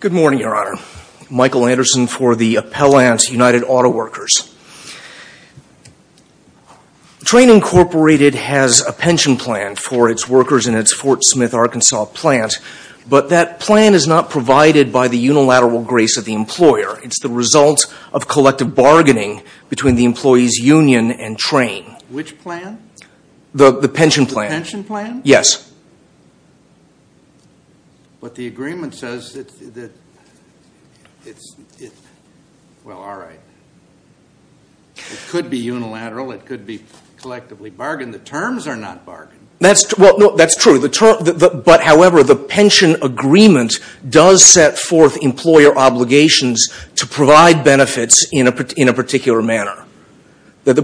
Good morning, Your Honor. Michael Anderson for the Appellant, United Auto Workers. Trane, Inc. has a pension plan for its workers in its Fort Smith, Arkansas plant, but that plan is not provided by the unilateral grace of the employer. It's the result of collective bargaining between the employees' union and Trane. Which plan? The pension plan. The pension plan? Yes. But the agreement says that it's, well, all right. It could be unilateral. It could be collectively bargained. The terms are not bargained. That's true. But, however, the pension agreement does set forth employer obligations to provide benefits in a particular manner. That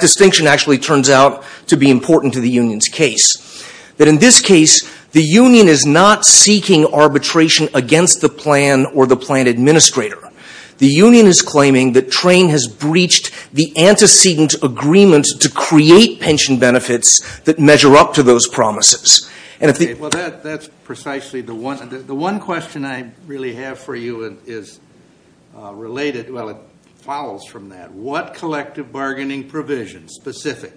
distinction actually turns out to be important to the union's case. But in this case, the union is not seeking arbitration against the plan or the plan administrator. The union is claiming that Trane has breached the antecedent agreement to create pension benefits that measure up to those promises. Well, that's precisely the one. The one question I really have for you is related, well, it follows from that. What collective bargaining provision, specific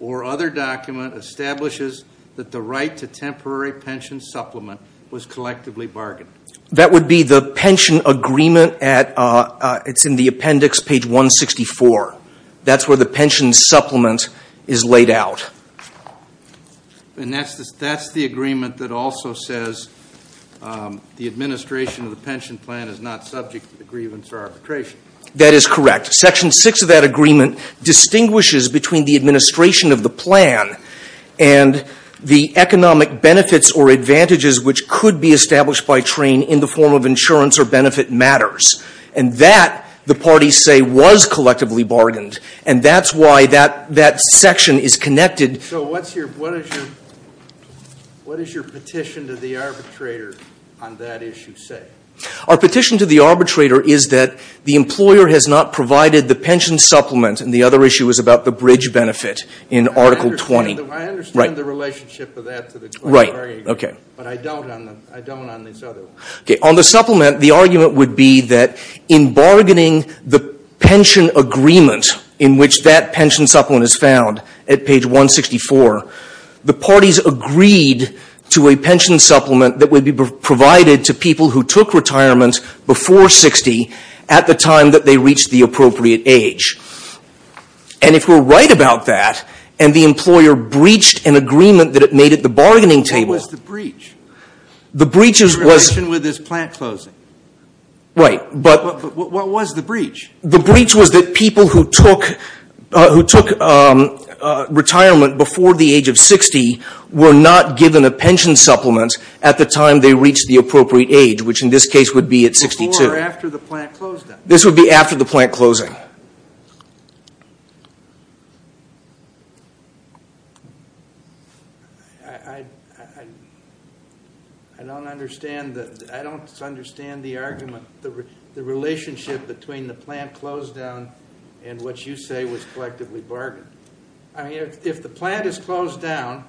or other document, establishes that the right to temporary pension supplement was collectively bargained? That would be the pension agreement. It's in the appendix, page 164. That's where the pension supplement is laid out. And that's the agreement that also says the administration of the pension plan is not subject to the grievance or arbitration. That is correct. Section 6 of that agreement distinguishes between the administration of the plan and the economic benefits or advantages, which could be established by Trane in the form of insurance or benefit matters. And that, the parties say, was collectively bargained. And that's why that section is connected. So what does your petition to the arbitrator on that issue say? Our petition to the arbitrator is that the employer has not provided the pension supplement, and the other issue is about the bridge benefit in Article 20. I understand the relationship of that to the collective bargaining agreement, but I don't on this other one. Okay. On the supplement, the argument would be that in bargaining the pension agreement in which that pension supplement is found at page 164, the parties agreed to a pension supplement that would be provided to people who took retirement before 60 at the time that they reached the appropriate age. And if we're right about that, and the employer breached an agreement that it made at the bargaining table. What was the breach? The breach was. In relation with this plant closing. Right, but. What was the breach? The breach was that people who took retirement before the age of 60 were not given a pension supplement at the time they reached the appropriate age, which in this case would be at 62. Before or after the plant closing? This would be after the plant closing. I don't understand the argument, the relationship between the plant closed down and what you say was collectively bargained. I mean, if the plant is closed down,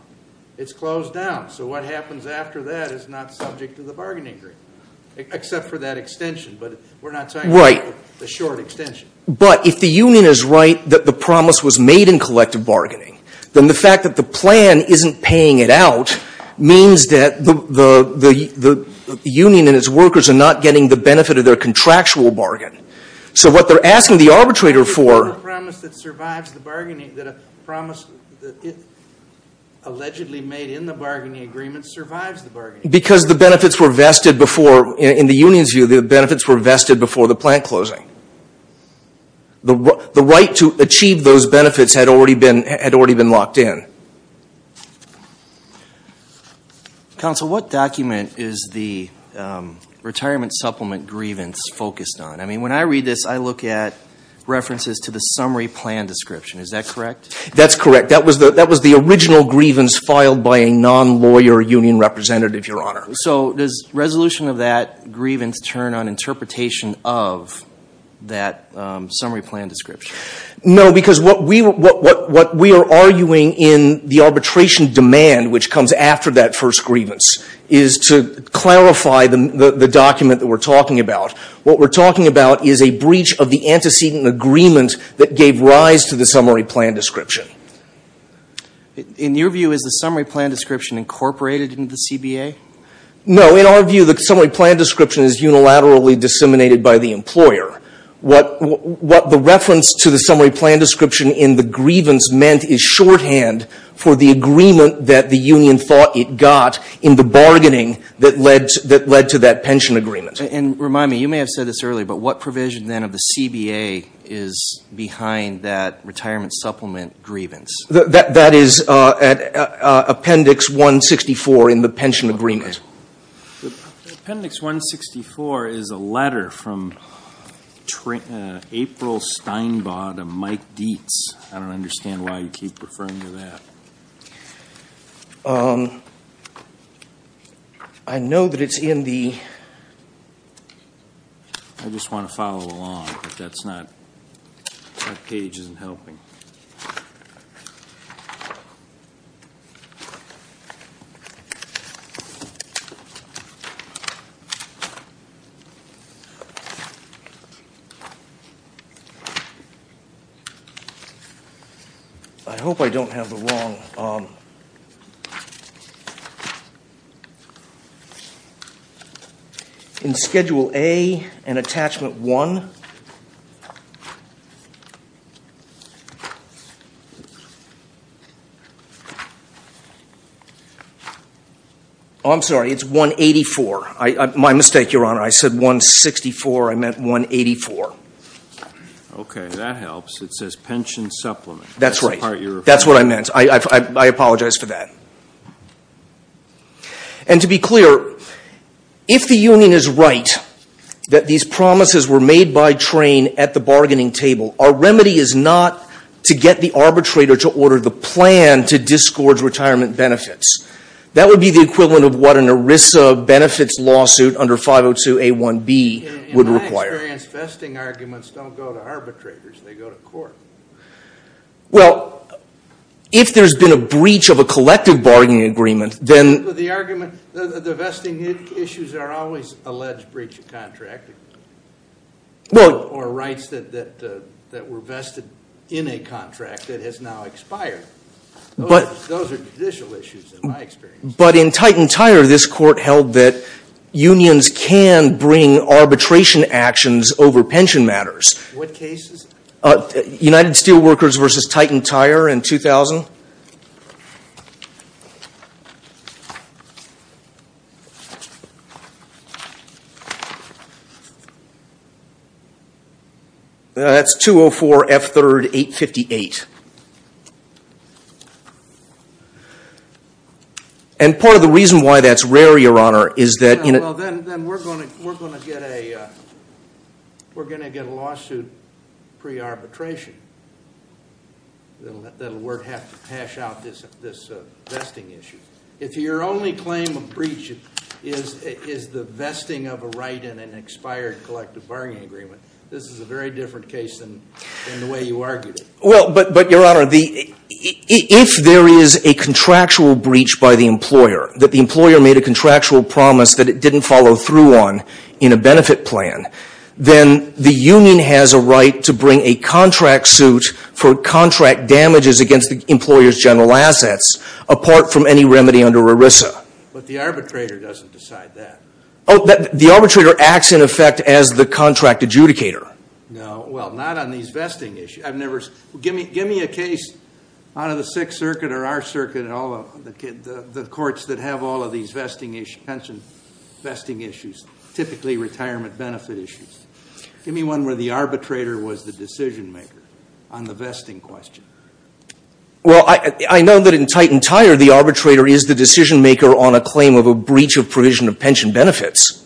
it's closed down. So what happens after that is not subject to the bargaining agreement, except for that extension. But we're not talking about the short extension. But if the union is right that the promise was made in collective bargaining, then the fact that the plan isn't paying it out means that the union and its workers are not getting the benefit of their contractual bargain. So what they're asking the arbitrator for. The promise that survives the bargaining, that a promise allegedly made in the bargaining agreement survives the bargaining. Because the benefits were vested before, in the union's view, the benefits were vested before the plant closing. The right to achieve those benefits had already been locked in. Counsel, what document is the retirement supplement grievance focused on? I mean, when I read this, I look at references to the summary plan description. Is that correct? That's correct. That was the original grievance filed by a non-lawyer union representative, Your Honor. So does resolution of that grievance turn on interpretation of that summary plan description? No, because what we are arguing in the arbitration demand, which comes after that first grievance, is to clarify the document that we're talking about. What we're talking about is a breach of the antecedent agreement that gave rise to the summary plan description. In your view, is the summary plan description incorporated into the CBA? No. In our view, the summary plan description is unilaterally disseminated by the employer. What the reference to the summary plan description in the grievance meant is shorthand for the agreement that the union thought it got in the bargaining that led to that pension agreement. Remind me, you may have said this earlier, but what provision then of the CBA is behind that retirement supplement grievance? That is Appendix 164 in the pension agreement. Appendix 164 is a letter from April Steinbaugh to Mike Dietz. I don't understand why you keep referring to that. I know that it's in the I just want to follow along, but that's not, that page isn't helping. I hope I don't have the wrong. In Schedule A and Attachment 1 I'm sorry, it's 184. My mistake, Your Honor. I said 164. I meant 184. Okay, that helps. It says pension supplement. That's right. That's what I meant. I apologize for that. And to be clear, if the union is right that these promises were made by train at the bargaining table, our remedy is not to get the arbitrator to order the plan to discord retirement benefits. That would be the equivalent of what an ERISA benefits lawsuit under 502A1B would require. In my experience, vesting arguments don't go to arbitrators. They go to court. Well, if there's been a breach of a collective bargaining agreement, then The argument, the vesting issues are always alleged breach of contract. Well Or rights that were vested in a contract that has now expired. But Those are judicial issues, in my experience. But in Titantire, this court held that unions can bring arbitration actions over pension matters. What cases? United Steelworkers v. Titantire in 2000. That's 204F3-858. And part of the reason why that's rare, Your Honor, is that Well, then we're going to get a lawsuit pre-arbitration. That'll have to hash out this vesting issue. If your only claim of breach is the vesting of a right in an expired collective bargaining agreement, this is a very different case than the way you argued it. Well, but Your Honor, if there is a contractual breach by the employer, that the employer made a contractual promise that it didn't follow through on in a benefit plan, then the union has a right to bring a contract suit for contract damages against the employer's general assets, apart from any remedy under ERISA. But the arbitrator doesn't decide that. The arbitrator acts, in effect, as the contract adjudicator. No, well, not on these vesting issues. Give me a case out of the Sixth Circuit or our circuit, the courts that have all of these pension vesting issues, typically retirement benefit issues. Give me one where the arbitrator was the decision maker on the vesting question. Well, I know that in Titantire, the arbitrator is the decision maker on a claim of a breach of provision of pension benefits.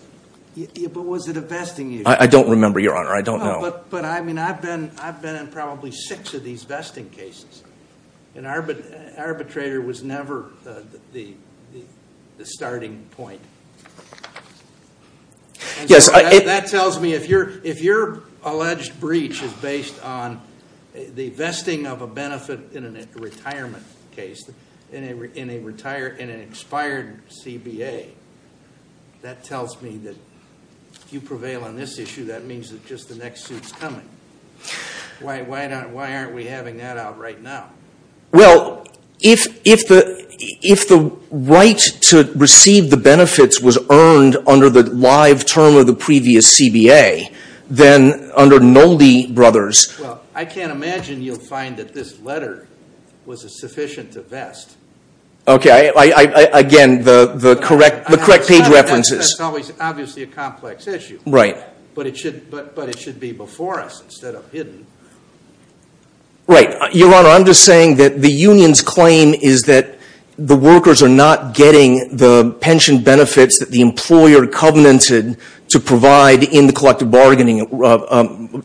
Yeah, but was it a vesting issue? I don't remember, Your Honor. I don't know. But, I mean, I've been in probably six of these vesting cases. An arbitrator was never the starting point. Yes, I- That tells me, if your alleged breach is based on the vesting of a benefit in a retirement case, in an expired CBA, that tells me that if you prevail on this issue, that means that just the next suit's coming. Why aren't we having that out right now? Well, if the right to receive the benefits was earned under the live term of the previous CBA, then under Nolde Brothers- Well, I can't imagine you'll find that this letter was sufficient to vest. Okay, again, the correct page references- That's obviously a complex issue. Right. But it should be before us instead of hidden. Right. Your Honor, I'm just saying that the union's claim is that the workers are not getting the pension benefits that the employer covenanted to provide in the collective bargaining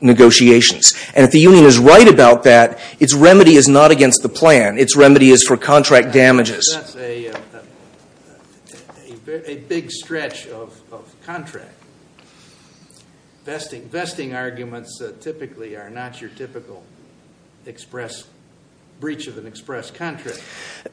negotiations. And if the union is right about that, its remedy is not against the plan. Its remedy is for contract damages. That's a big stretch of contract. Vesting arguments typically are not your typical breach of an express contract.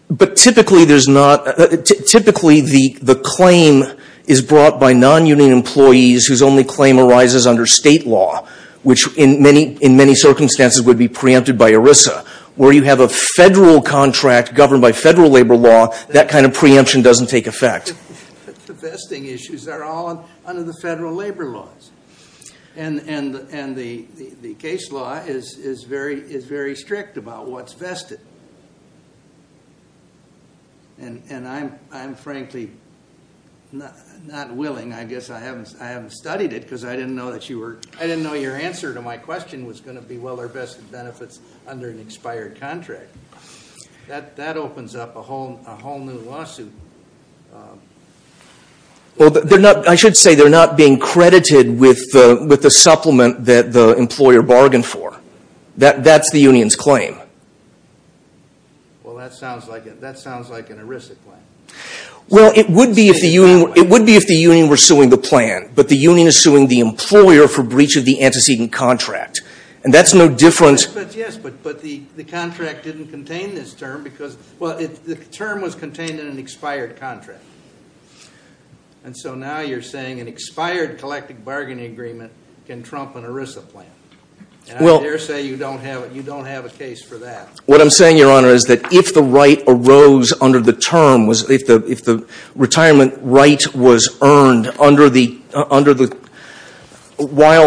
But typically, the claim is brought by non-union employees whose only claim arises under state law, which in many circumstances would be preempted by ERISA, where you have a federal contract governed by federal labor law. That kind of preemption doesn't take effect. The vesting issues are all under the federal labor laws. And the case law is very strict about what's vested. And I'm frankly not willing. I guess I haven't studied it because I didn't know that you were- That opens up a whole new lawsuit. Well, I should say they're not being credited with the supplement that the employer bargained for. That's the union's claim. Well, that sounds like an ERISA claim. Well, it would be if the union were suing the plan, but the union is suing the employer for breach of the antecedent contract. And that's no different- Yes, but the contract didn't contain this term because- Well, the term was contained in an expired contract. And so now you're saying an expired collective bargaining agreement can trump an ERISA plan. And I dare say you don't have a case for that. What I'm saying, Your Honor, is that if the right arose under the term, if the retirement right was earned while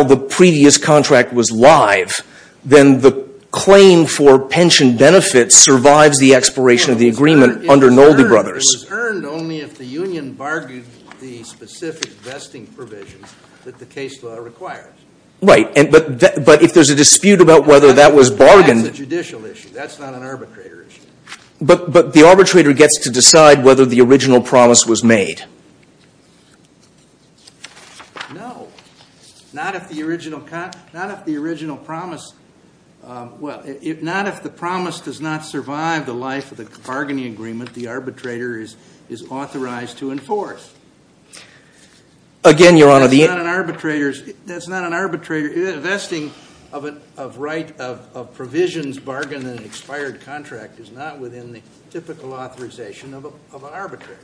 the previous contract was live, then the claim for pension benefits survives the expiration of the agreement under Nolde Brothers. It was earned only if the union bargained the specific vesting provisions that the case law requires. Right, but if there's a dispute about whether that was bargained- That's a judicial issue. That's not an arbitrator issue. But the arbitrator gets to decide whether the original promise was made. No, not if the original promise- Well, not if the promise does not survive the life of the bargaining agreement the arbitrator is authorized to enforce. Again, Your Honor, the- That's not an arbitrator- Vesting of provisions bargained in an expired contract is not within the typical authorization of an arbitrator.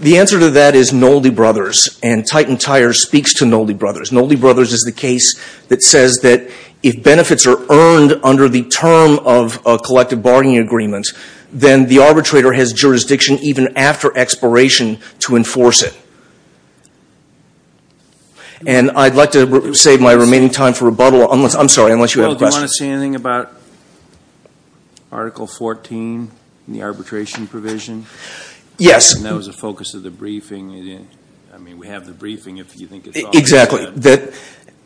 The answer to that is Nolde Brothers, and Titan Tire speaks to Nolde Brothers. Nolde Brothers is the case that says that if benefits are earned under the term of a collective bargaining agreement, then the arbitrator has jurisdiction even after expiration to enforce it. And I'd like to save my remaining time for rebuttal. I'm sorry, unless you have a question. Well, do you want to say anything about Article 14 in the arbitration provision? Yes. And that was the focus of the briefing. I mean, we have the briefing if you think it's- Exactly.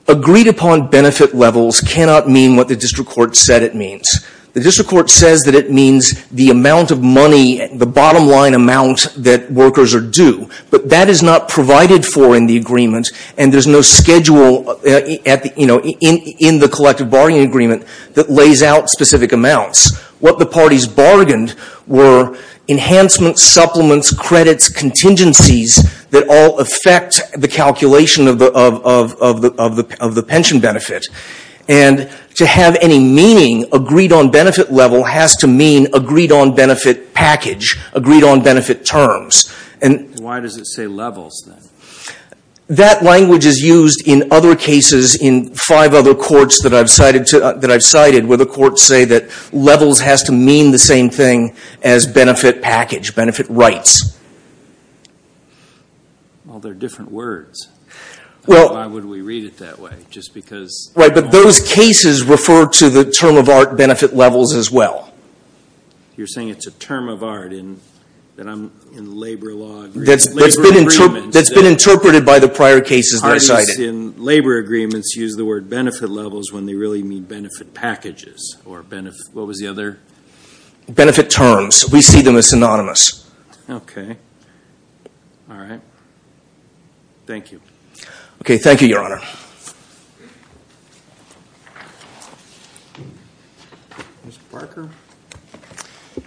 Agreed-upon benefit levels cannot mean what the district court said it means. The district court says that it means the amount of money, the bottom-line amount that workers are due. But that is not provided for in the agreement, and there's no schedule in the collective bargaining agreement that lays out specific amounts. What the parties bargained were enhancements, supplements, credits, contingencies that all affect the calculation of the pension benefit. And to have any meaning, agreed-on benefit level has to mean agreed-on benefit package, agreed-on benefit terms. Why does it say levels then? That language is used in other cases in five other courts that I've cited where the courts say that levels has to mean the same thing as benefit package, benefit rights. Well, they're different words. Why would we read it that way, just because- Right, but those cases refer to the term of art benefit levels as well. You're saying it's a term of art in labor law agreements? That's been interpreted by the prior cases that I cited. Parties in labor agreements use the word benefit levels when they really mean benefit packages, or what was the other- Benefit terms. We see them as synonymous. Okay. All right. Thank you. Okay, thank you, Your Honor. Mr. Parker?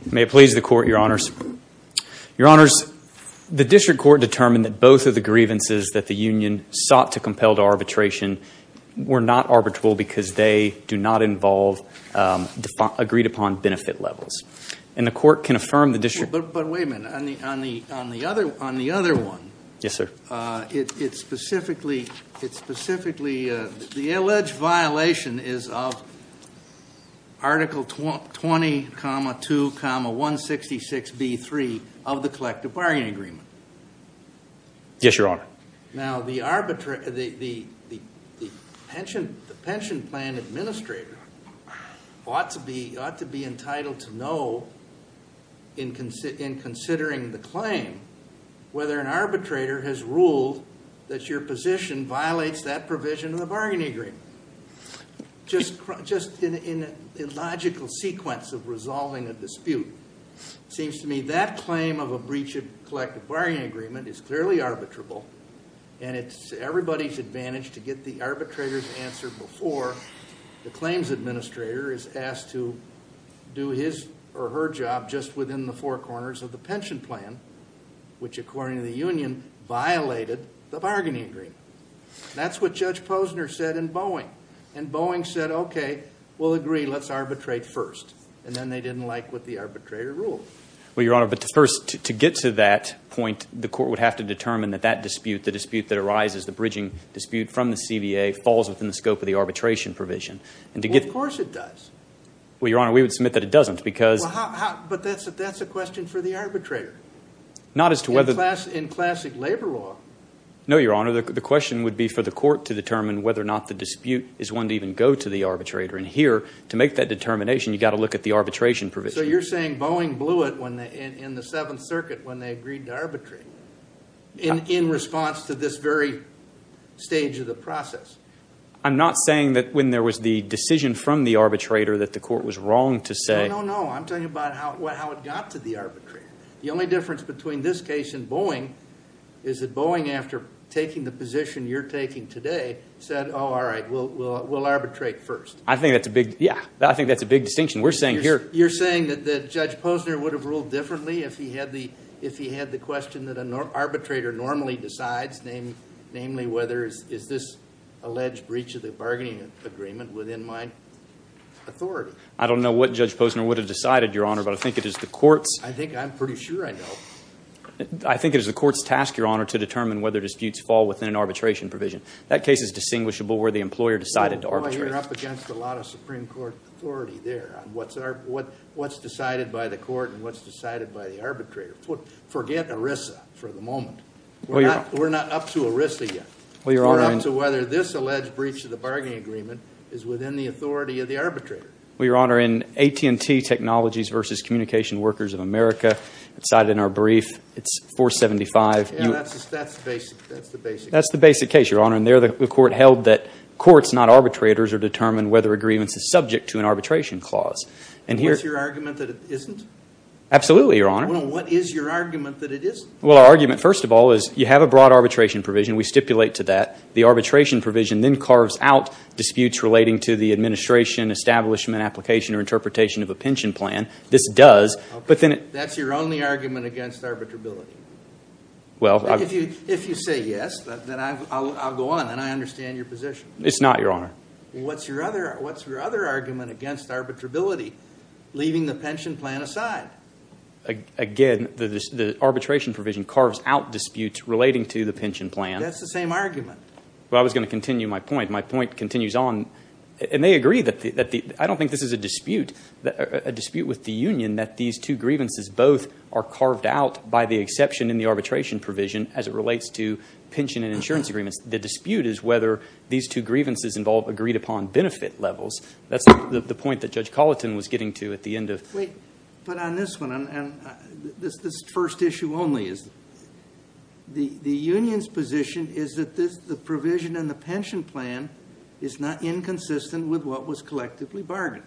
May it please the Court, Your Honors. Your Honors, the district court determined that both of the grievances that the union sought to compel to arbitration were not arbitrable because they do not involve agreed-upon benefit levels. And the court can affirm the district- But wait a minute. On the other one- Yes, sir. It specifically- The alleged violation is of Article 20, 2, 166B3 of the collective bargaining agreement. Yes, Your Honor. Now, the pension plan administrator ought to be entitled to know, in considering the claim, whether an arbitrator has ruled that your position violates that provision of the bargaining agreement. Just in a logical sequence of resolving a dispute. It seems to me that claim of a breach of collective bargaining agreement is clearly arbitrable, and it's everybody's advantage to get the arbitrator's answer before the claims administrator is asked to do his or her job just within the four corners of the pension plan, which, according to the union, violated the bargaining agreement. That's what Judge Posner said in Boeing. And Boeing said, okay, we'll agree. Let's arbitrate first. And then they didn't like what the arbitrator ruled. Well, Your Honor, but first, to get to that point, the court would have to determine that that dispute, the dispute that arises, the bridging dispute from the CBA, falls within the scope of the arbitration provision. Well, of course it does. Well, Your Honor, we would submit that it doesn't because- But that's a question for the arbitrator. Not as to whether- In classic labor law. No, Your Honor. The question would be for the court to determine whether or not the dispute is one to even go to the arbitrator. And here, to make that determination, you've got to look at the arbitration provision. So you're saying Boeing blew it in the Seventh Circuit when they agreed to arbitrate in response to this very stage of the process? I'm not saying that when there was the decision from the arbitrator that the court was wrong to say- No, no, no. I'm talking about how it got to the arbitrator. The only difference between this case and Boeing is that Boeing, after taking the position you're taking today, said, oh, all right, we'll arbitrate first. I think that's a big- Yeah. I think that's a big distinction. We're saying here- You're saying that Judge Posner would have ruled differently if he had the question that an arbitrator normally decides, namely whether is this alleged breach of the bargaining agreement within my authority? I don't know what Judge Posner would have decided, Your Honor, but I think it is the court's- I think I'm pretty sure I know. I think it is the court's task, Your Honor, to determine whether disputes fall within an arbitration provision. That case is distinguishable where the employer decided to arbitrate. Boy, you're up against a lot of Supreme Court authority there on what's decided by the court and what's decided by the arbitrator. Forget ERISA for the moment. We're not up to ERISA yet. We're up to whether this alleged breach of the bargaining agreement is within the authority of the arbitrator. Well, Your Honor, in AT&T Technologies versus Communication Workers of America, it's cited in our brief. It's 475. That's the basic case. That's the basic case, Your Honor, and there the court held that courts, not arbitrators, are determined whether a grievance is subject to an arbitration clause. What's your argument that it isn't? Absolutely, Your Honor. Well, what is your argument that it isn't? Well, our argument, first of all, is you have a broad arbitration provision. We stipulate to that. The arbitration provision then carves out disputes relating to the administration, establishment, application, or interpretation of a pension plan. This does, but then – That's your only argument against arbitrability. Well – If you say yes, then I'll go on and I'll understand your position. It's not, Your Honor. What's your other argument against arbitrability, leaving the pension plan aside? Again, the arbitration provision carves out disputes relating to the pension plan. That's the same argument. Well, I was going to continue my point. My point continues on, and they agree that – I don't think this is a dispute. A dispute with the union that these two grievances both are carved out by the exception in the arbitration provision as it relates to pension and insurance agreements. The dispute is whether these two grievances involve agreed-upon benefit levels. That's the point that Judge Colleton was getting to at the end of – But on this one, this first issue only, the union's position is that the provision in the pension plan is not inconsistent with what was collectively bargained.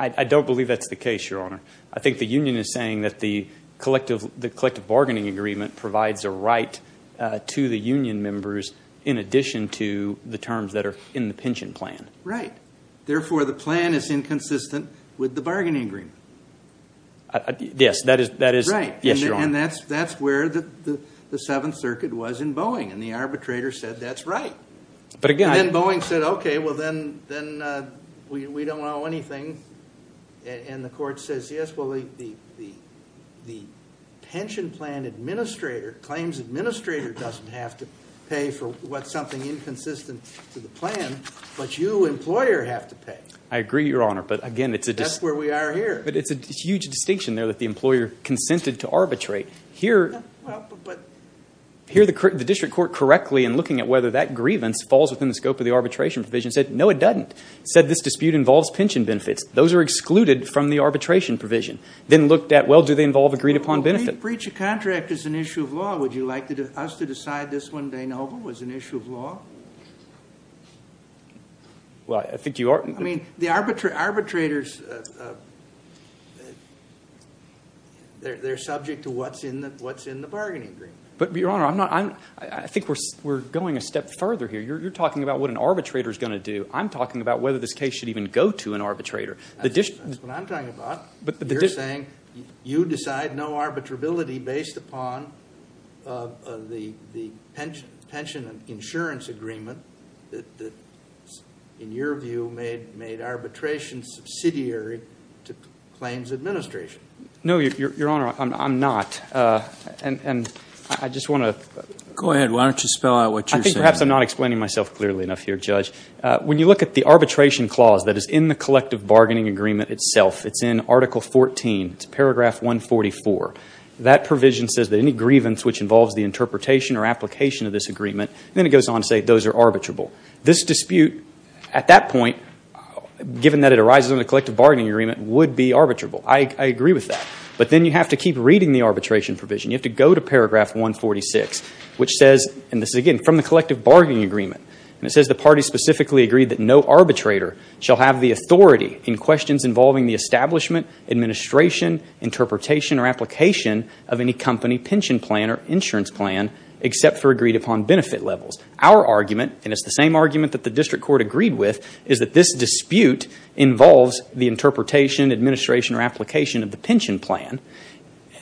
I don't believe that's the case, Your Honor. I think the union is saying that the collective bargaining agreement provides a right to the union members in addition to the terms that are in the pension plan. Right. Therefore, the plan is inconsistent with the bargaining agreement. Yes, that is – Right. Yes, Your Honor. And that's where the Seventh Circuit was in Boeing, and the arbitrator said that's right. But again – I agree, Your Honor. But again, it's a – That's where we are here. But it's a huge distinction there that the employer consented to arbitrate. Here – Well, but – Here the district court correctly in looking at whether that grievance falls within the scope of the arbitration provision said no, it doesn't. It said this dispute involves pension benefits. Those are excluded from the arbitration provision. Then looked at, well, do they involve agreed-upon benefit? If the breach of contract is an issue of law, would you like us to decide this one day novel was an issue of law? Well, I think you are – I mean, the arbitrators, they're subject to what's in the bargaining agreement. But, Your Honor, I'm not – I think we're going a step further here. You're talking about what an arbitrator is going to do. I'm talking about whether this case should even go to an arbitrator. That's what I'm talking about. You're saying you decide no arbitrability based upon the pension insurance agreement that, in your view, made arbitration subsidiary to claims administration. No, Your Honor, I'm not. And I just want to – Go ahead. Why don't you spell out what you're saying? I think perhaps I'm not explaining myself clearly enough here, Judge. When you look at the arbitration clause that is in the collective bargaining agreement itself, it's in Article 14. It's Paragraph 144. That provision says that any grievance which involves the interpretation or application of this agreement – and then it goes on to say those are arbitrable. This dispute, at that point, given that it arises under the collective bargaining agreement, would be arbitrable. I agree with that. But then you have to keep reading the arbitration provision. You have to go to Paragraph 146, which says – and this is, again, from the collective bargaining agreement. And it says the party specifically agreed that no arbitrator shall have the authority in questions involving the establishment, administration, interpretation, or application of any company pension plan or insurance plan except for agreed upon benefit levels. Our argument, and it's the same argument that the district court agreed with, is that this dispute involves the interpretation, administration, or application of the pension plan.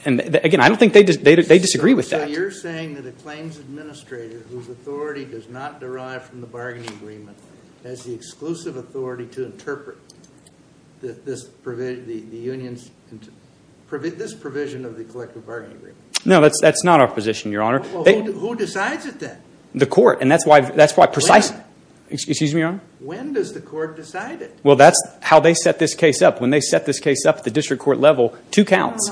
And, again, I don't think they disagree with that. So you're saying that a claims administrator whose authority does not derive from the bargaining agreement has the exclusive authority to interpret this provision of the collective bargaining agreement? No, that's not our position, Your Honor. Who decides it then? The court, and that's why – When? Excuse me, Your Honor? When does the court decide it? Well, that's how they set this case up. When they set this case up at the district court level, two counts.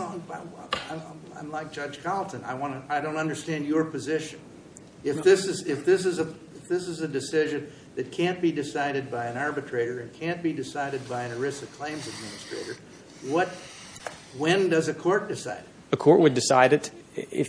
I'm like Judge Carlton. I don't understand your position. If this is a decision that can't be decided by an arbitrator and can't be decided by an ERISA claims administrator, when does a court decide it? A court would decide it if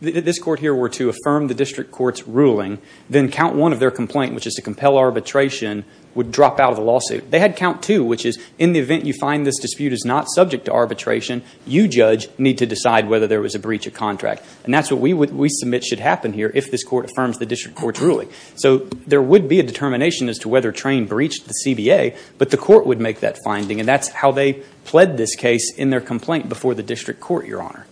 this court here were to affirm the district court's ruling, then count one of their complaint, which is to compel arbitration, would drop out of the lawsuit. They had count two, which is in the event you find this dispute is not subject to arbitration, you, Judge, need to decide whether there was a breach of contract. And that's what we submit should happen here if this court affirms the district court's ruling. So there would be a determination as to whether Train breached the CBA, but the court would make that finding, and that's how they pled this case in their complaint before the district court, Your Honor.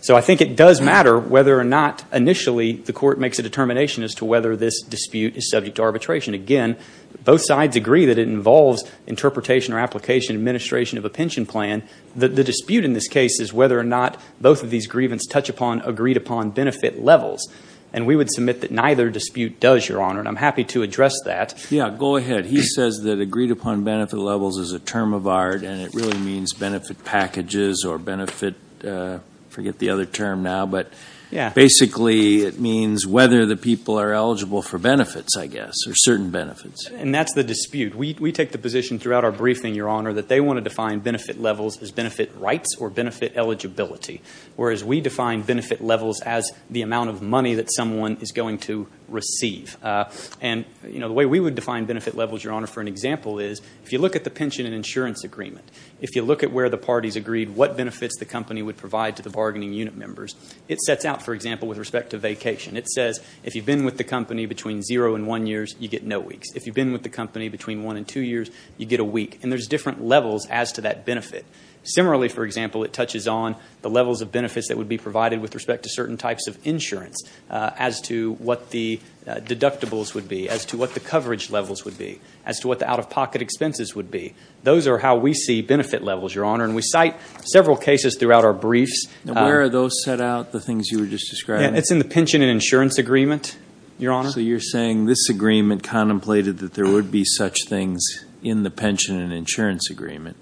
So I think it does matter whether or not initially the court makes a determination as to whether this dispute is subject to arbitration. Again, both sides agree that it involves interpretation or application and administration of a pension plan. The dispute in this case is whether or not both of these grievance touch upon agreed upon benefit levels. And we would submit that neither dispute does, Your Honor, and I'm happy to address that. Yeah, go ahead. He says that agreed upon benefit levels is a term of art, and it really means benefit packages or benefit, I forget the other term now, but basically it means whether the people are eligible for benefits, I guess, or certain benefits. And that's the dispute. We take the position throughout our briefing, Your Honor, that they want to define benefit levels as benefit rights or benefit eligibility, whereas we define benefit levels as the amount of money that someone is going to receive. And the way we would define benefit levels, Your Honor, for an example is if you look at the pension and insurance agreement, if you look at where the parties agreed what benefits the company would provide to the bargaining unit members, it sets out, for example, with respect to vacation. It says if you've been with the company between zero and one years, you get no weeks. If you've been with the company between one and two years, you get a week. And there's different levels as to that benefit. Similarly, for example, it touches on the levels of benefits that would be provided with respect to certain types of insurance as to what the deductibles would be, as to what the coverage levels would be, as to what the out-of-pocket expenses would be. Those are how we see benefit levels, Your Honor. And we cite several cases throughout our briefs. Where are those set out, the things you were just describing? It's in the pension and insurance agreement, Your Honor. So you're saying this agreement contemplated that there would be such things in the pension and insurance agreement.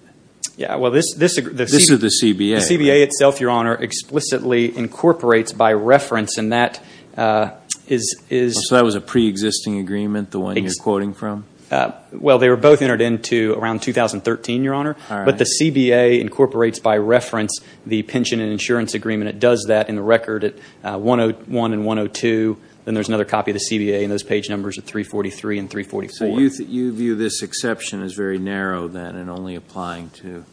Yeah. Well, this is the CBA. The CBA itself, Your Honor, explicitly incorporates by reference, and that is... So that was a preexisting agreement, the one you're quoting from? Well, they were both entered into around 2013, Your Honor. All right. But the CBA incorporates by reference the pension and insurance agreement. It does that in the record at 101 and 102. Then there's another copy of the CBA in those page numbers at 343 and 344. So you view this exception as very narrow, then, and only applying to?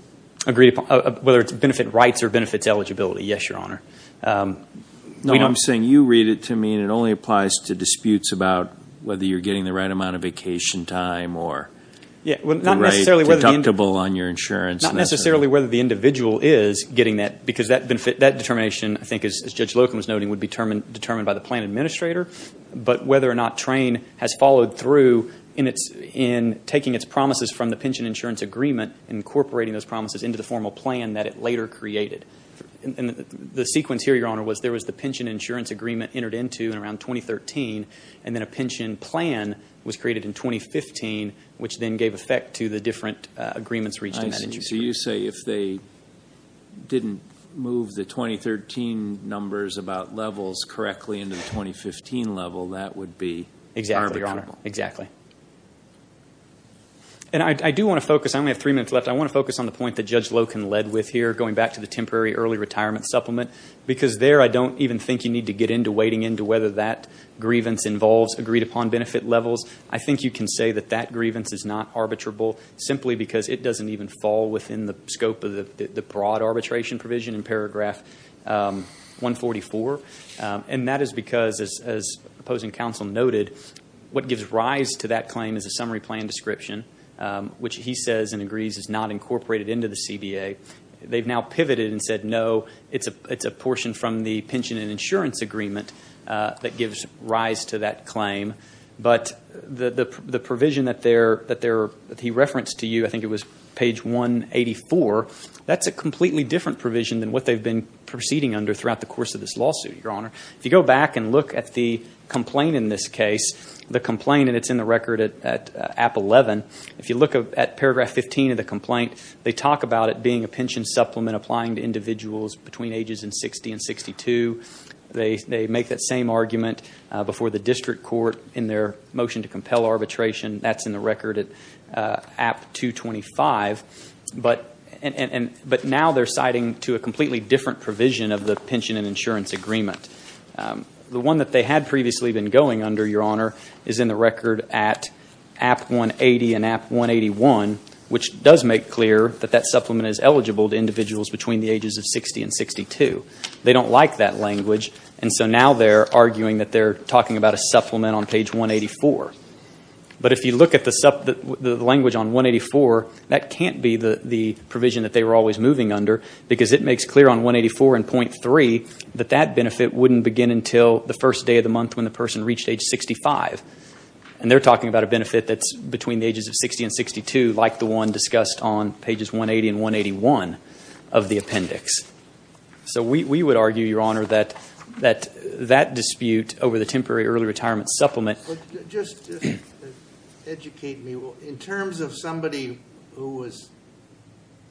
Whether it's benefit rights or benefits eligibility, yes, Your Honor. No, I'm saying you read it to me, and it only applies to disputes about whether you're getting the right amount of vacation time or the right deductible on your insurance. Not necessarily whether the individual is getting that, because that determination, I think, as Judge Loken was noting, would be determined by the plan administrator, but whether or not TRAIN has followed through in taking its promises from the pension and insurance agreement and incorporating those promises into the formal plan that it later created. The sequence here, Your Honor, was there was the pension and insurance agreement entered into around 2013, and then a pension plan was created in 2015, which then gave effect to the different agreements reached in that insurance agreement. I see. So you say if they didn't move the 2013 numbers about levels correctly into the 2015 level, that would be harmful? Exactly, Your Honor. Exactly. And I do want to focus. I only have three minutes left. I want to focus on the point that Judge Loken led with here, going back to the temporary early retirement supplement, because there I don't even think you need to get into wading into whether that grievance involves agreed-upon benefit levels. I think you can say that that grievance is not arbitrable, simply because it doesn't even fall within the scope of the broad arbitration provision in paragraph 144, and that is because, as opposing counsel noted, what gives rise to that claim is a summary plan description, which he says and agrees is not incorporated into the CBA. They've now pivoted and said, no, it's a portion from the pension and insurance agreement that gives rise to that claim. But the provision that he referenced to you, I think it was page 184, that's a completely different provision than what they've been proceeding under throughout the course of this lawsuit, Your Honor. If you go back and look at the complaint in this case, the complaint, and it's in the record at app 11, if you look at paragraph 15 of the complaint, they talk about it being a pension supplement applying to individuals between ages 60 and 62. They make that same argument before the district court in their motion to compel arbitration. That's in the record at app 225. But now they're citing to a completely different provision of the pension and insurance agreement. The one that they had previously been going under, Your Honor, is in the record at app 180 and app 181, which does make clear that that supplement is eligible to individuals between the ages of 60 and 62. They don't like that language, and so now they're arguing that they're talking about a supplement on page 184. But if you look at the language on 184, that can't be the provision that they were always moving under, because it makes clear on 184 and .3 that that benefit wouldn't begin until the first day of the month when the person reached age 65. And they're talking about a benefit that's between the ages of 60 and 62, like the one discussed on pages 180 and 181 of the appendix. So we would argue, Your Honor, that that dispute over the temporary early retirement supplement Just educate me. In terms of somebody who was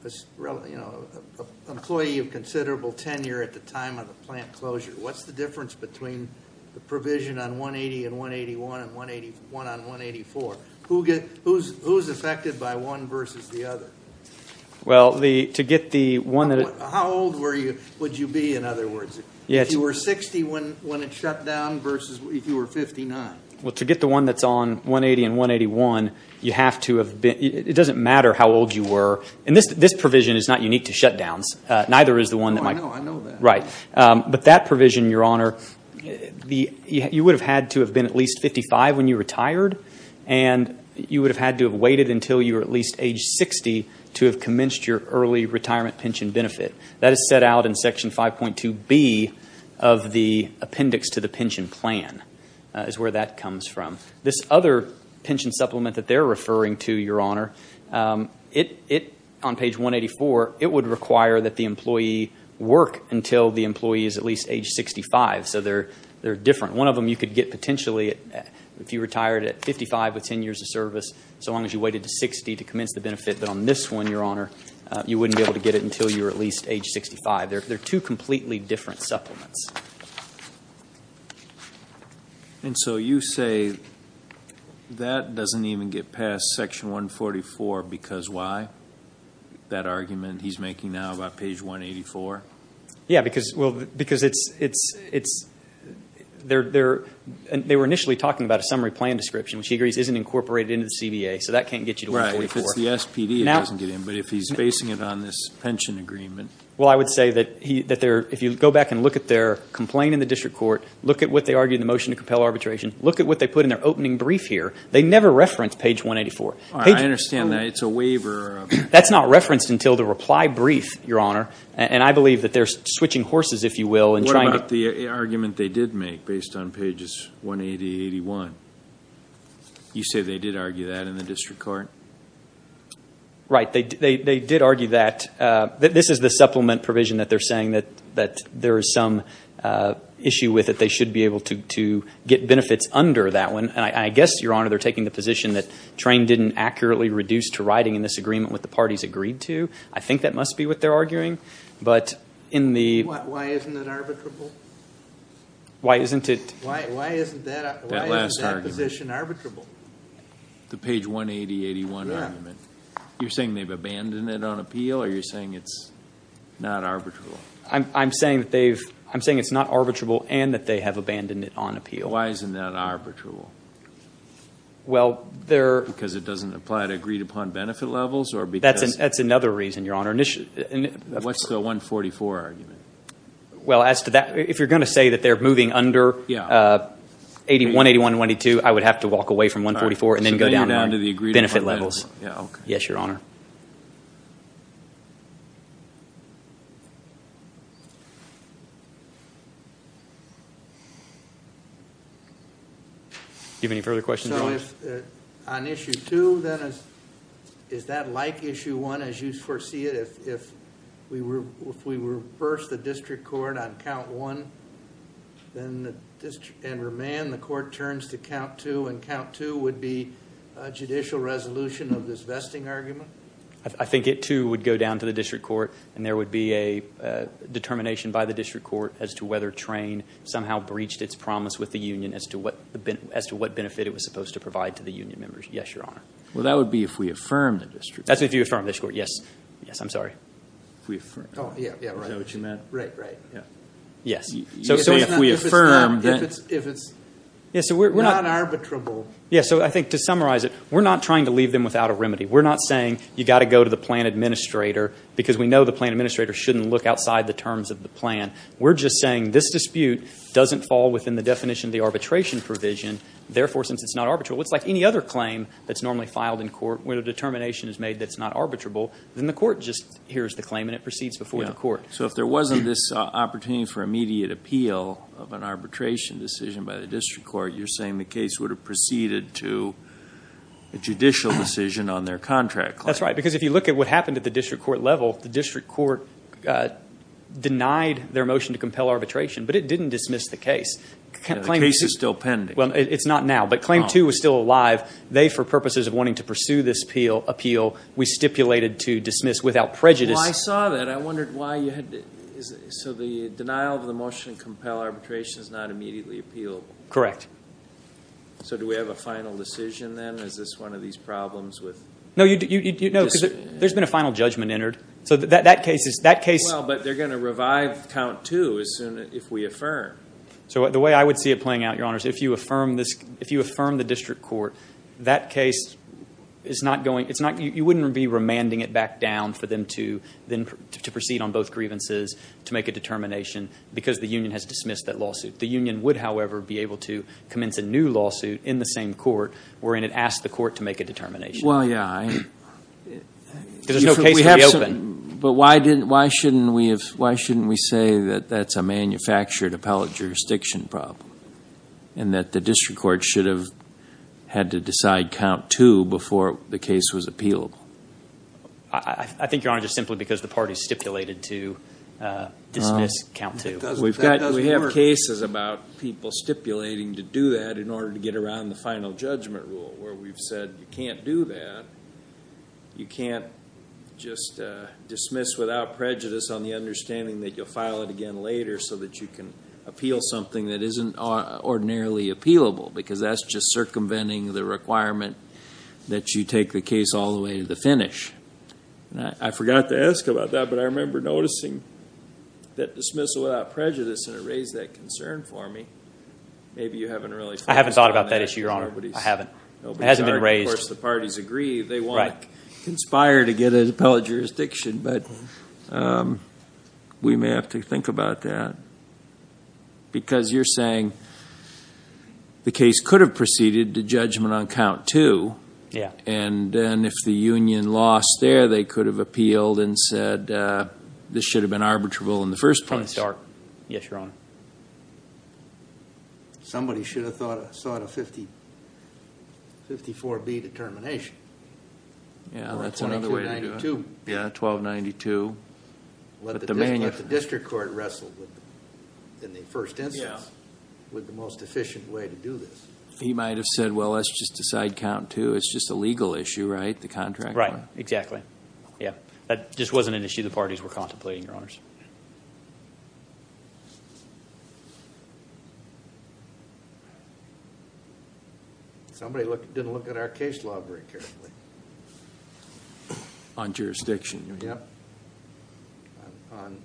an employee of considerable tenure at the time of the plant closure, what's the difference between the provision on 180 and 181 and one on 184? Who's affected by one versus the other? Well, to get the one that How old would you be, in other words? If you were 60 when it shut down versus if you were 59? Well, to get the one that's on 180 and 181, you have to have been It doesn't matter how old you were. And this provision is not unique to shutdowns. Neither is the one that might Oh, I know that. Right. But that provision, Your Honor, you would have had to have been at least 55 when you retired, and you would have had to have waited until you were at least age 60 to have commenced your early retirement pension benefit. That is set out in Section 5.2b of the appendix to the pension plan is where that comes from. This other pension supplement that they're referring to, Your Honor, on page 184, it would require that the employee work until the employee is at least age 65. So they're different. One of them you could get potentially if you retired at 55 with 10 years of service, so long as you waited to 60 to commence the benefit. But on this one, Your Honor, you wouldn't be able to get it until you were at least age 65. They're two completely different supplements. And so you say that doesn't even get past Section 144 because why? That argument he's making now about page 184? Yeah, because it's they were initially talking about a summary plan description, which he agrees isn't incorporated into the CBA, so that can't get you to 144. If it's the SPD, it doesn't get in. But if he's basing it on this pension agreement. Well, I would say that if you go back and look at their complaint in the district court, look at what they argued in the motion to compel arbitration, look at what they put in their opening brief here. They never referenced page 184. I understand that. It's a waiver. That's not referenced until the reply brief, Your Honor. And I believe that they're switching horses, if you will, in trying to – What about the argument they did make based on pages 180 and 81? You say they did argue that in the district court? Right. They did argue that. This is the supplement provision that they're saying that there is some issue with it. They should be able to get benefits under that one. And I guess, Your Honor, they're taking the position that Trane didn't accurately reduce to writing in this agreement what the parties agreed to. I think that must be what they're arguing. But in the – Why isn't it arbitrable? Why isn't it – Why isn't that position arbitrable? The page 180, 81 argument. You're saying they've abandoned it on appeal or you're saying it's not arbitrable? I'm saying that they've – I'm saying it's not arbitrable and that they have abandoned it on appeal. Why isn't that arbitrable? Well, there – Because it doesn't apply to agreed-upon benefit levels or because – That's another reason, Your Honor. What's the 144 argument? Well, as to that, if you're going to say that they're moving under 81, 81, and 122, I would have to walk away from 144 and then go down to the agreed-upon benefit levels. Yes, Your Honor. Do you have any further questions, Your Honor? On issue two, then, is that like issue one as you foresee it? If we reverse the district court on count one and remand, the court turns to count two, and count two would be a judicial resolution of this vesting argument? I think it, too, would go down to the district court, and there would be a determination by the district court as to whether Train somehow breached its promise with the union as to what benefit it was supposed to provide to the union members. Yes, Your Honor. Well, that would be if we affirmed the district court. That's if you affirmed the district court, yes. Yes, I'm sorry. Oh, yeah, right. Is that what you meant? Right, right. Yes. So if we affirm that. If it's not arbitrable. Yes, so I think to summarize it, we're not trying to leave them without a remedy. We're not saying you've got to go to the plan administrator because we know the plan administrator shouldn't look outside the terms of the plan. We're just saying this dispute doesn't fall within the definition of the arbitration provision. Therefore, since it's not arbitrable, it's like any other claim that's normally filed in court where the determination is made that it's not arbitrable, then the court just hears the claim and it proceeds before the court. So if there wasn't this opportunity for immediate appeal of an arbitration decision by the district court, you're saying the case would have proceeded to a judicial decision on their contract claim. That's right, because if you look at what happened at the district court level, the district court denied their motion to compel arbitration, but it didn't dismiss the case. The case is still pending. Well, it's not now, but Claim 2 was still alive. They, for purposes of wanting to pursue this appeal, we stipulated to dismiss without prejudice. Well, I saw that. I wondered why you had to – so the denial of the motion to compel arbitration is not immediately appealable. Correct. So do we have a final decision then? Is this one of these problems with – No, because there's been a final judgment entered. So that case is – that case – Well, but they're going to revive Count 2 as soon as – if we affirm. So the way I would see it playing out, Your Honors, if you affirm this – if you affirm the district court, that case is not going – it's not – you wouldn't be remanding it back down for them to then proceed on both grievances to make a determination because the union has dismissed that lawsuit. The union would, however, be able to commence a new lawsuit in the same court wherein it asked the court to make a determination. Well, yeah, I – Because there's no case to reopen. But why didn't – why shouldn't we – why shouldn't we say that that's a manufactured appellate jurisdiction problem and that the district court should have had to decide Count 2 before the case was appealable? I think, Your Honor, just simply because the party stipulated to dismiss Count 2. That doesn't work. We have cases about people stipulating to do that in order to get around the final judgment rule where we've said you can't do that. You can't just dismiss without prejudice on the understanding that you'll file it again later so that you can appeal something that isn't ordinarily appealable because that's just circumventing the requirement that you take the case all the way to the finish. I forgot to ask about that, but I remember noticing that dismissal without prejudice, and it raised that concern for me. Maybe you haven't really – I haven't raised that issue, Your Honor. I haven't. It hasn't been raised. Of course, the parties agree they want to conspire to get an appellate jurisdiction, but we may have to think about that because you're saying the case could have proceeded to judgment on Count 2. Yeah. And if the union lost there, they could have appealed and said this should have been arbitrable in the first place. Yes, Your Honor. Somebody should have sought a 54B determination. Yeah, that's another way to do it. Or 1292. Yeah, 1292. But the district court wrestled in the first instance with the most efficient way to do this. He might have said, well, let's just decide Count 2. It's just a legal issue, right, the contract? Right. Exactly. That just wasn't an issue the parties were contemplating, Your Honors. Somebody didn't look at our case law very carefully. On jurisdiction. Yep. On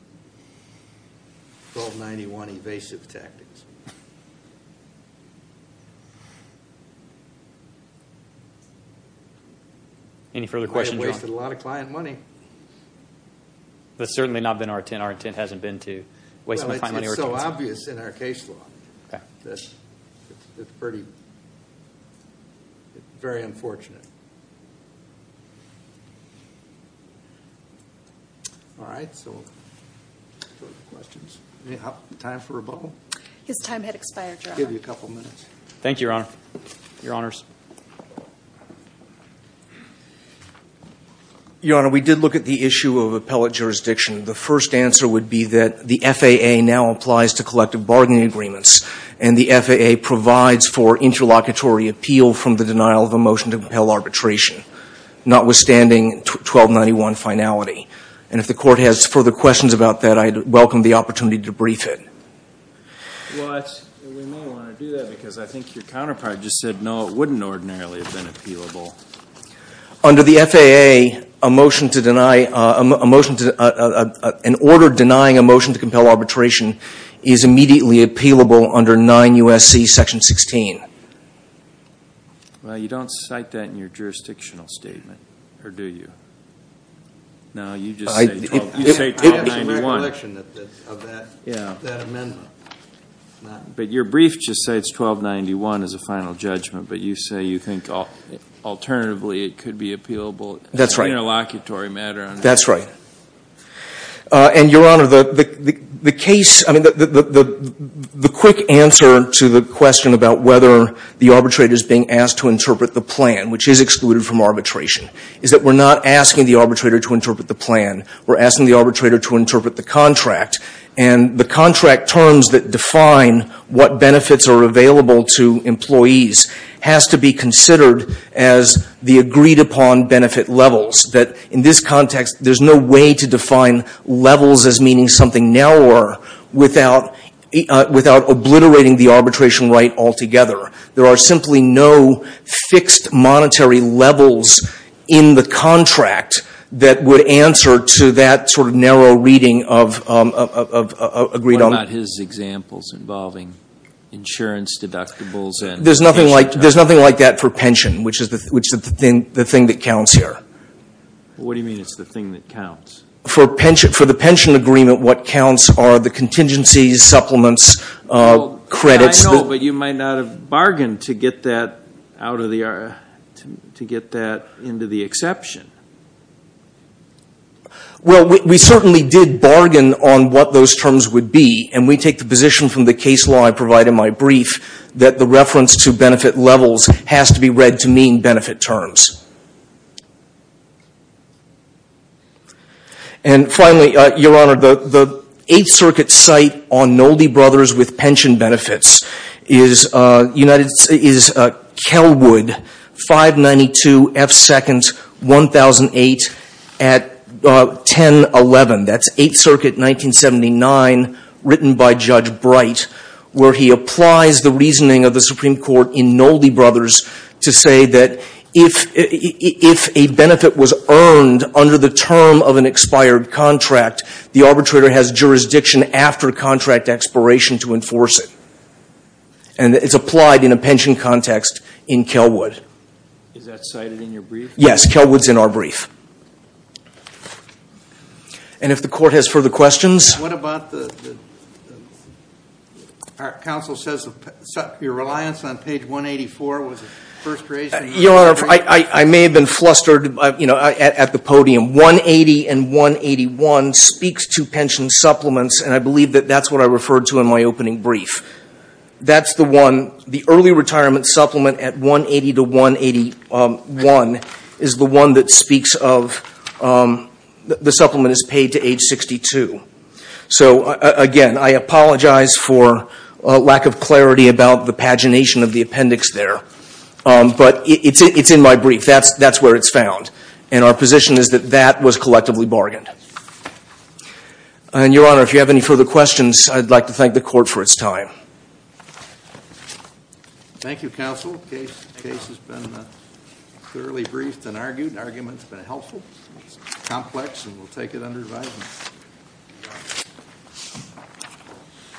1291 evasive tactics. Any further questions, Your Honor? I wasted a lot of client money. That's certainly not been our intent. Our intent hasn't been to waste money. Well, it's not so obvious in our case law. Okay. It's pretty very unfortunate. All right, so further questions? Any time for rebuttal? His time had expired, Your Honor. I'll give you a couple minutes. Thank you, Your Honor. Your Honors. Your Honor, we did look at the issue of appellate jurisdiction. The first answer would be that the FAA now applies to collective bargaining agreements, and the FAA provides for interlocutory appeal from the denial of a motion to compel arbitration, notwithstanding 1291 finality. And if the court has further questions about that, I'd welcome the opportunity to brief it. Well, we may want to do that because I think your counterpart just said, no, it wouldn't ordinarily have been appealable. Under the FAA, a motion to deny an order denying a motion to compel arbitration is immediately appealable under 9 U.S.C. Section 16. Well, you don't cite that in your jurisdictional statement, or do you? No, you just say 1291. I have some recollection of that amendment. But your brief just states 1291 as a final judgment, but you say you think alternatively it could be appealable as an interlocutory matter. That's right. And, Your Honor, the case, I mean, the quick answer to the question about whether the arbitrator is being asked to interpret the plan, which is excluded from arbitration, is that we're not asking the arbitrator to interpret the plan. We're asking the arbitrator to interpret the contract. And the contract terms that define what benefits are available to employees has to be considered as the agreed-upon benefit levels, that in this context there's no way to define levels as meaning something narrower without obliterating the arbitration right altogether. There are simply no fixed monetary levels in the contract that would answer to that sort of narrow reading of agreed-on. What about his examples involving insurance deductibles and pension tax? There's nothing like that for pension, which is the thing that counts here. What do you mean it's the thing that counts? For the pension agreement, what counts are the contingencies, supplements, credits. I know, but you might not have bargained to get that into the exception. Well, we certainly did bargain on what those terms would be, and we take the position from the case law I provide in my brief that the reference to benefit levels has to be read to mean benefit terms. And finally, Your Honor, the Eighth Circuit's site on Nolde Brothers with pension benefits is Kelwood, 592 F. Second, 1008 at 1011. That's Eighth Circuit, 1979, written by Judge Bright, where he applies the reasoning of the Supreme Court in Nolde Brothers to say that if a benefit was earned under the term of an expired contract, the arbitrator has jurisdiction after contract expiration to enforce it. And it's applied in a pension context in Kelwood. Is that cited in your brief? Yes, Kelwood's in our brief. And if the Court has further questions... What about the... Our counsel says your reliance on page 184 was first raised... Your Honor, I may have been flustered at the podium. 180 and 181 speaks to pension supplements, and I believe that that's what I referred to in my opening brief. That's the one, the early retirement supplement at 180 to 181 is the one that speaks of... The supplement is paid to age 62. So, again, I apologize for lack of clarity about the pagination of the appendix there. But it's in my brief. That's where it's found. And our position is that that was collectively bargained. And, Your Honor, if you have any further questions, I'd like to thank the Court for its time. Thank you, Counsel. The case has been clearly briefed and argued. The argument's been helpful, complex, and we'll take it under advisement.